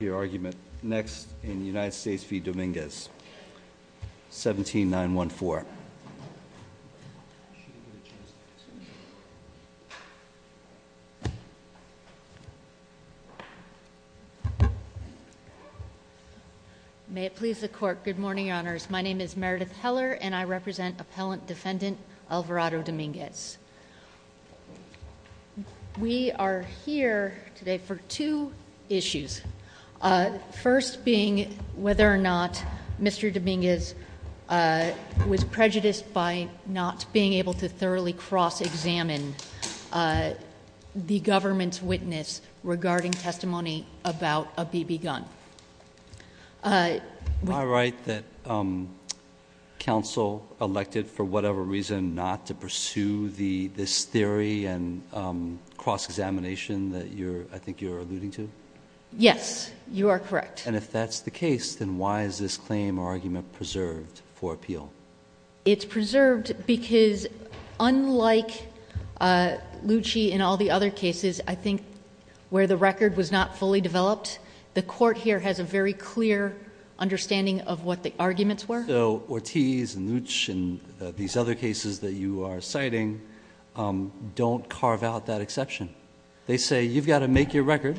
Your argument next in the United States v. Dominguez, 17-914. May it please the Court. Good morning, Your Honors. My name is Meredith Heller, and I represent Appellant Defendant Alvarado Dominguez. We are here today for two issues. First being whether or not Mr. Dominguez was prejudiced by not being able to thoroughly cross-examine the government's witness regarding testimony about a BB gun. I write that counsel elected for whatever reason not to pursue this theory and cross-examination that I think you're alluding to? Yes, you are correct. And if that's the case, then why is this claim or argument preserved for appeal? It's preserved because unlike Lucci and all the other cases I think where the record was not fully developed, the Court here has a very clear understanding of what the arguments were. So Ortiz and Lucci and these other cases that you are citing don't carve out that exception. They say you've got to make your record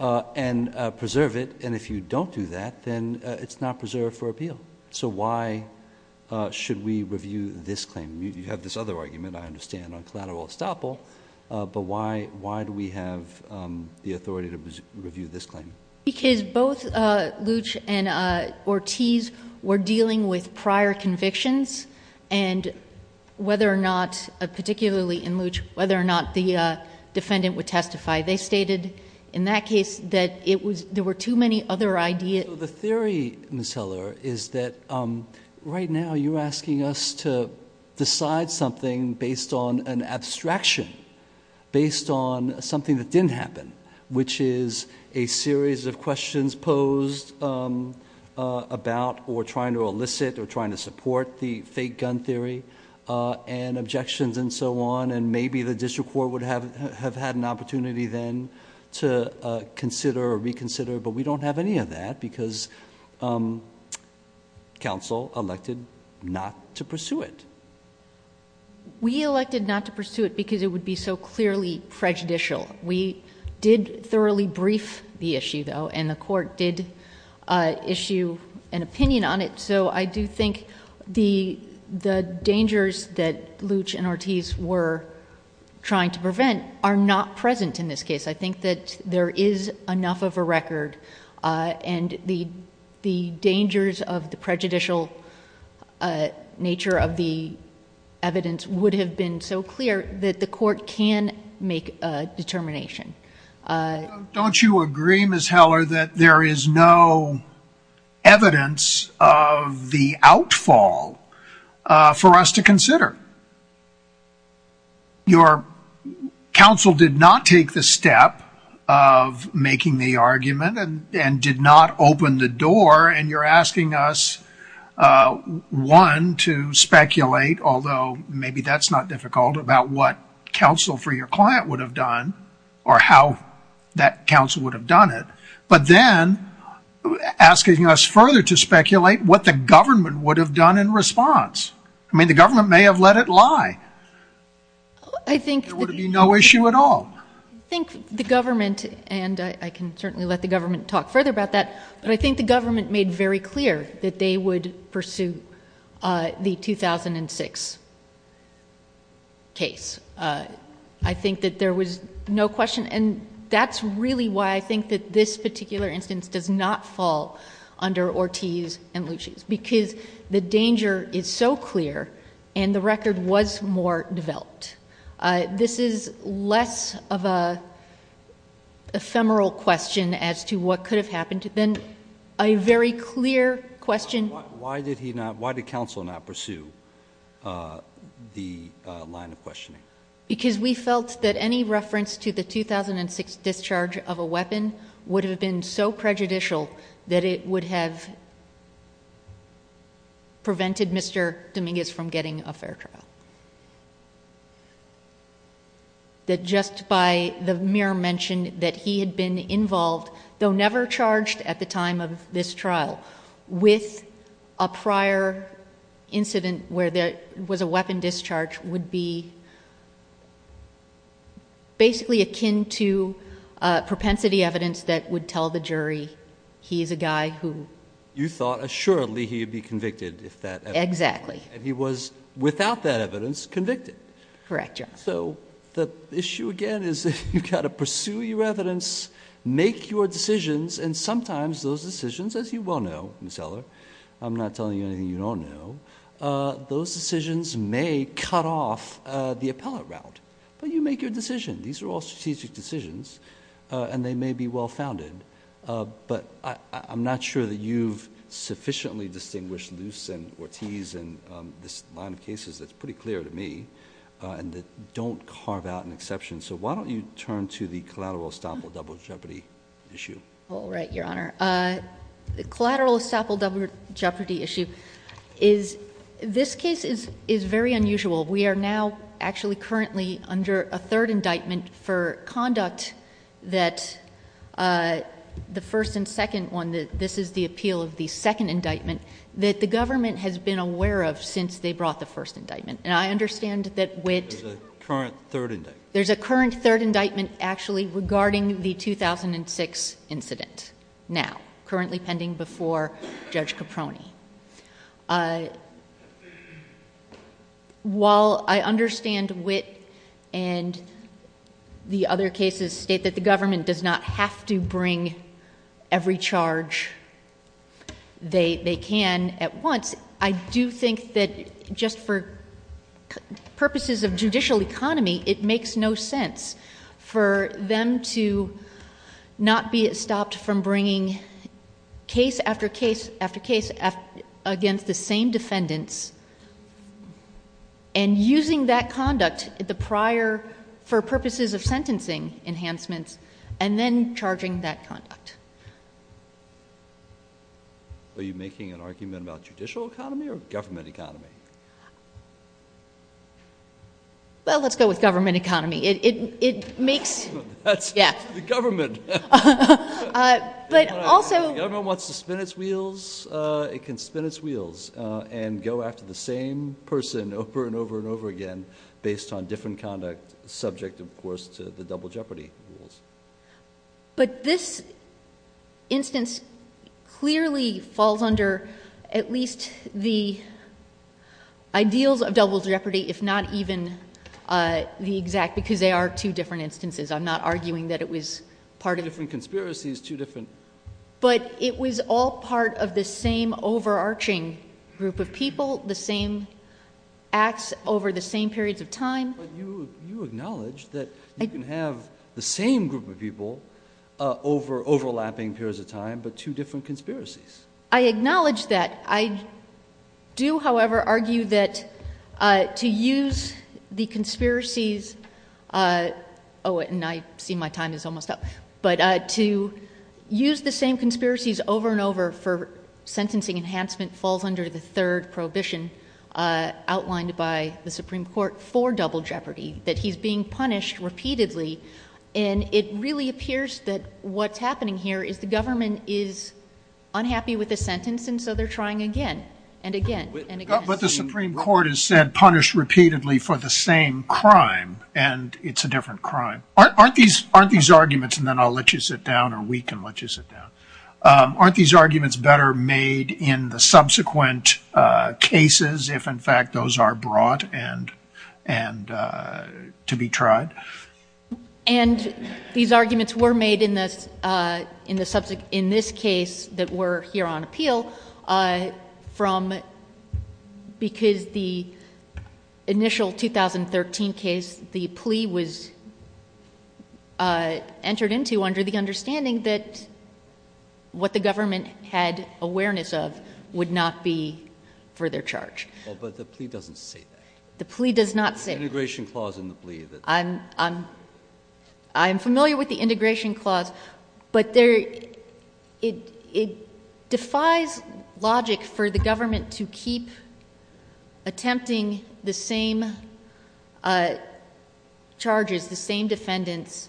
and preserve it, and if you don't do that, then it's not preserved for appeal. So why should we review this claim? You have this other argument, I understand, on collateral estoppel, but why do we have the authority to review this claim? Because both Lucci and Ortiz were dealing with prior convictions and whether or not, particularly in Lucci, whether or not the defendant would testify. They stated in that case that there were too many other ideas. So the theory, Ms. Heller, is that right now you're asking us to decide something based on an abstraction, based on something that didn't happen, which is a series of questions posed about or trying to elicit or trying to support the fake gun theory and objections and so on. And maybe the district court would have had an opportunity then to consider or reconsider, but we don't have any of that because counsel elected not to pursue it. We elected not to pursue it because it would be so clearly prejudicial. We did thoroughly brief the issue, though, and the court did issue an opinion on it. So I do think the dangers that Lucci and Ortiz were trying to prevent are not present in this case. I think that there is enough of a record and the dangers of the prejudicial nature of the evidence would have been so clear that the court can make a determination. Don't you agree, Ms. Heller, that there is no evidence of the outfall for us to consider? Your counsel did not take the step of making the argument and did not open the door, and you're asking us, one, to speculate, although maybe that's not difficult, about what counsel for your client would have done or how that counsel would have done it, but then asking us further to speculate what the government would have done in response. I mean, the government may have let it lie. There would be no issue at all. I think the government, and I can certainly let the government talk further about that, but I think the government made very clear that they would pursue the 2006 case. I think that there was no question, and that's really why I think that this particular instance does not fall under Ortiz and Lucci's, because the danger is so clear and the record was more developed. This is less of an ephemeral question as to what could have happened than a very clear question. Why did counsel not pursue the line of questioning? Because we felt that any reference to the 2006 discharge of a weapon would have been so prejudicial that it would have prevented Mr. Dominguez from getting a fair trial. That just by the mere mention that he had been involved, though never charged at the time of this trial, with a prior incident where there was a weapon discharge would be basically akin to propensity evidence that would tell the jury he is a guy who... You thought assuredly he would be convicted if that... Exactly. He was, without that evidence, convicted. Correct, Your Honor. The issue again is you've got to pursue your evidence, make your decisions, and sometimes those decisions, as you well know, Ms. Eller, I'm not telling you anything you don't know, those decisions may cut off the appellate route, but you make your decision. These are all strategic decisions, and they may be well-founded, but I'm not sure that you've sufficiently distinguished Luce and Ortiz and this line of cases that's pretty clear to me and that don't carve out an exception. So why don't you turn to the collateral estoppel double jeopardy issue? All right, Your Honor. The collateral estoppel double jeopardy issue is... this case is very unusual. We are now actually currently under a third indictment for conduct that the first and second one, this is the appeal of the second indictment, that the government has been aware of since they brought the first indictment. And I understand that... There's a current third indictment. There's a current third indictment actually regarding the 2006 incident now, currently pending before Judge Caproni. While I understand Witt and the other cases state that the government does not have to bring every charge they can at once, I do think that just for purposes of judicial economy, it makes no sense for them to not be stopped from bringing case after case after case against the same defendants and using that conduct, the prior for purposes of sentencing enhancements, and then charging that conduct. Are you making an argument about judicial economy or government economy? Well, let's go with government economy. It makes... That's the government. But also... If the government wants to spin its wheels, it can spin its wheels and go after the same person over and over and over again based on different conduct subject, of course, to the double jeopardy rules. But this instance clearly falls under at least the ideals of double jeopardy, if not even the exact, because they are two different instances. I'm not arguing that it was part of... Two different conspiracies, two different... But it was all part of the same overarching group of people, the same acts over the same periods of time. But you acknowledge that you can have the same group of people over overlapping periods of time, but two different conspiracies. I acknowledge that. I do, however, argue that to use the conspiracies... Oh, and I see my time is almost up. But to use the same conspiracies over and over for sentencing enhancement falls under the third prohibition outlined by the Supreme Court for double jeopardy, that he's being punished repeatedly. And it really appears that what's happening here is the government is unhappy with the sentence, and so they're trying again and again and again. But the Supreme Court has said punish repeatedly for the same crime, and it's a different crime. Aren't these arguments, and then I'll let you sit down, or we can let you sit down. Aren't these arguments better made in the subsequent cases if, in fact, those are brought and to be tried? And these arguments were made in this case that we're here on appeal from... What the government had awareness of would not be further charged. Oh, but the plea doesn't say that. The plea does not say that. The integration clause in the plea that... I'm familiar with the integration clause, but it defies logic for the government to keep attempting the same charges, the same defendants,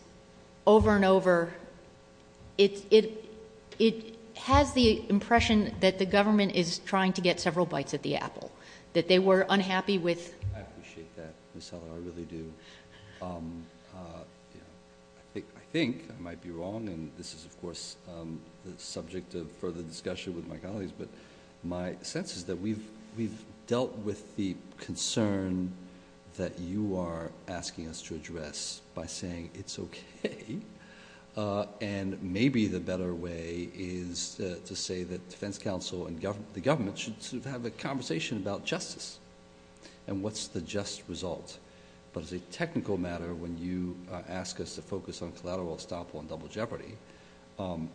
over and over. It has the impression that the government is trying to get several bites at the apple, that they were unhappy with... I think I might be wrong, and this is, of course, the subject of further discussion with my colleagues, but my sense is that we've dealt with the concern that you are asking us to address by saying it's okay, and maybe the better way is to say that defense counsel and the government should have a conversation about justice and what's the just result. But as a technical matter, when you ask us to focus on collateral estoppel and double jeopardy,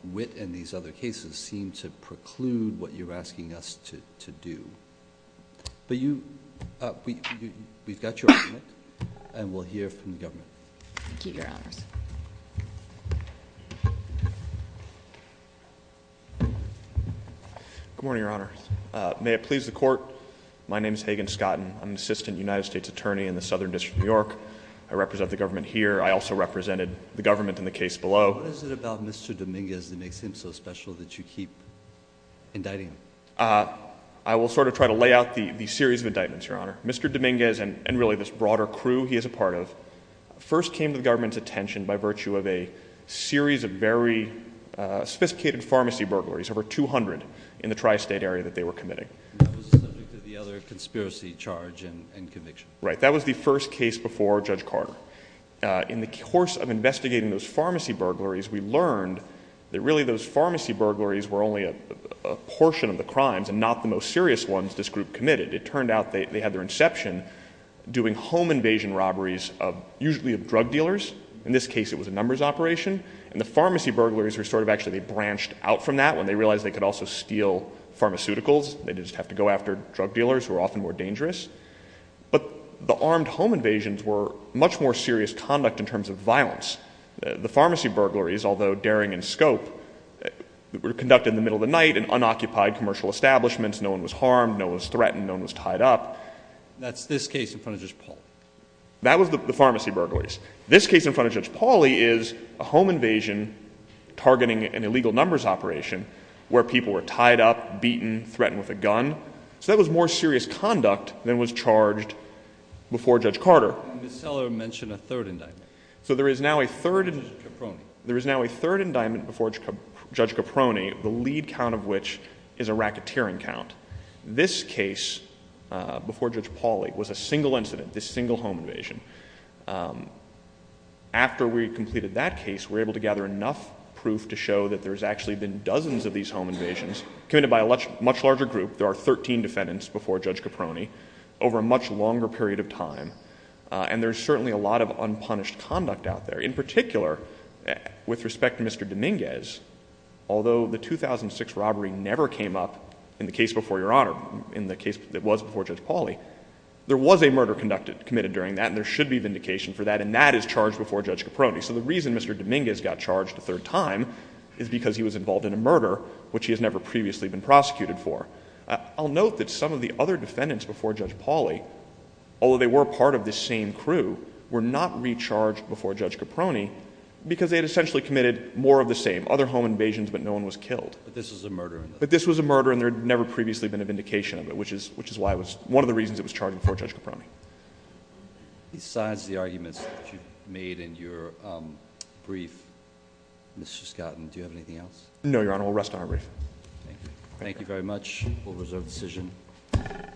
Witt and these other cases seem to preclude what you're asking us to do. But you... we've got your argument, and we'll hear from the government. Thank you, Your Honors. Good morning, Your Honors. May it please the Court, my name is Hagen Scotten. I'm an assistant United States attorney in the Southern District of New York. I represent the government here. I also represented the government in the case below. What is it about Mr. Dominguez that makes him so special that you keep indicting him? I will sort of try to lay out the series of indictments, Your Honor. Mr. Dominguez and really this broader crew he is a part of, first came to the government's attention by virtue of a series of very sophisticated pharmacy burglaries, over 200 in the tri-state area that they were committing. And that was the subject of the other conspiracy charge and conviction. Right. That was the first case before Judge Carter. In the course of investigating those pharmacy burglaries, we learned that really those pharmacy burglaries were only a portion of the crimes and not the most serious ones this group committed. It turned out they had their inception doing home invasion robberies usually of drug dealers. In this case, it was a numbers operation. And the pharmacy burglaries were sort of actually they branched out from that when they realized they could also steal pharmaceuticals. They didn't have to go after drug dealers who were often more dangerous. But the armed home invasions were much more serious conduct in terms of violence. The pharmacy burglaries, although daring in scope, were conducted in the middle of the night in unoccupied commercial establishments. No one was harmed. No one was threatened. No one was tied up. That's this case in front of Judge Pauly. That was the pharmacy burglaries. This case in front of Judge Pauly is a home invasion targeting an illegal numbers operation where people were tied up, beaten, threatened with a gun. So that was more serious conduct than was charged before Judge Carter. And Ms. Seller mentioned a third indictment. So there is now a third indictment before Judge Caproni, the lead count of which is a racketeering count. This case before Judge Pauly was a single incident, this single home invasion. After we completed that case, we were able to gather enough proof to show that there's actually been dozens of these home invasions committed by a much larger group. There are 13 defendants before Judge Caproni over a much longer period of time. And there's certainly a lot of unpunished conduct out there. In particular, with respect to Mr. Dominguez, although the 2006 robbery never came up in the case before Your Honor, in the case that was before Judge Pauly, there was a murder committed during that, and there should be vindication for that, and that is charged before Judge Caproni. So the reason Mr. Dominguez got charged a third time is because he was involved in a murder which he has never previously been prosecuted for. I'll note that some of the other defendants before Judge Pauly, although they were part of this same crew, were not recharged before Judge Caproni because they had essentially committed more of the same, other home invasions but no one was killed. But this was a murder? But this was a murder and there had never previously been a vindication of it, which is why it was, one of the reasons it was charged before Judge Caproni. Besides the arguments that you've made in your brief, Mr. Scotton, do you have anything else? No, Your Honor. We'll rest on our brief. Thank you very much. We'll reserve the decision.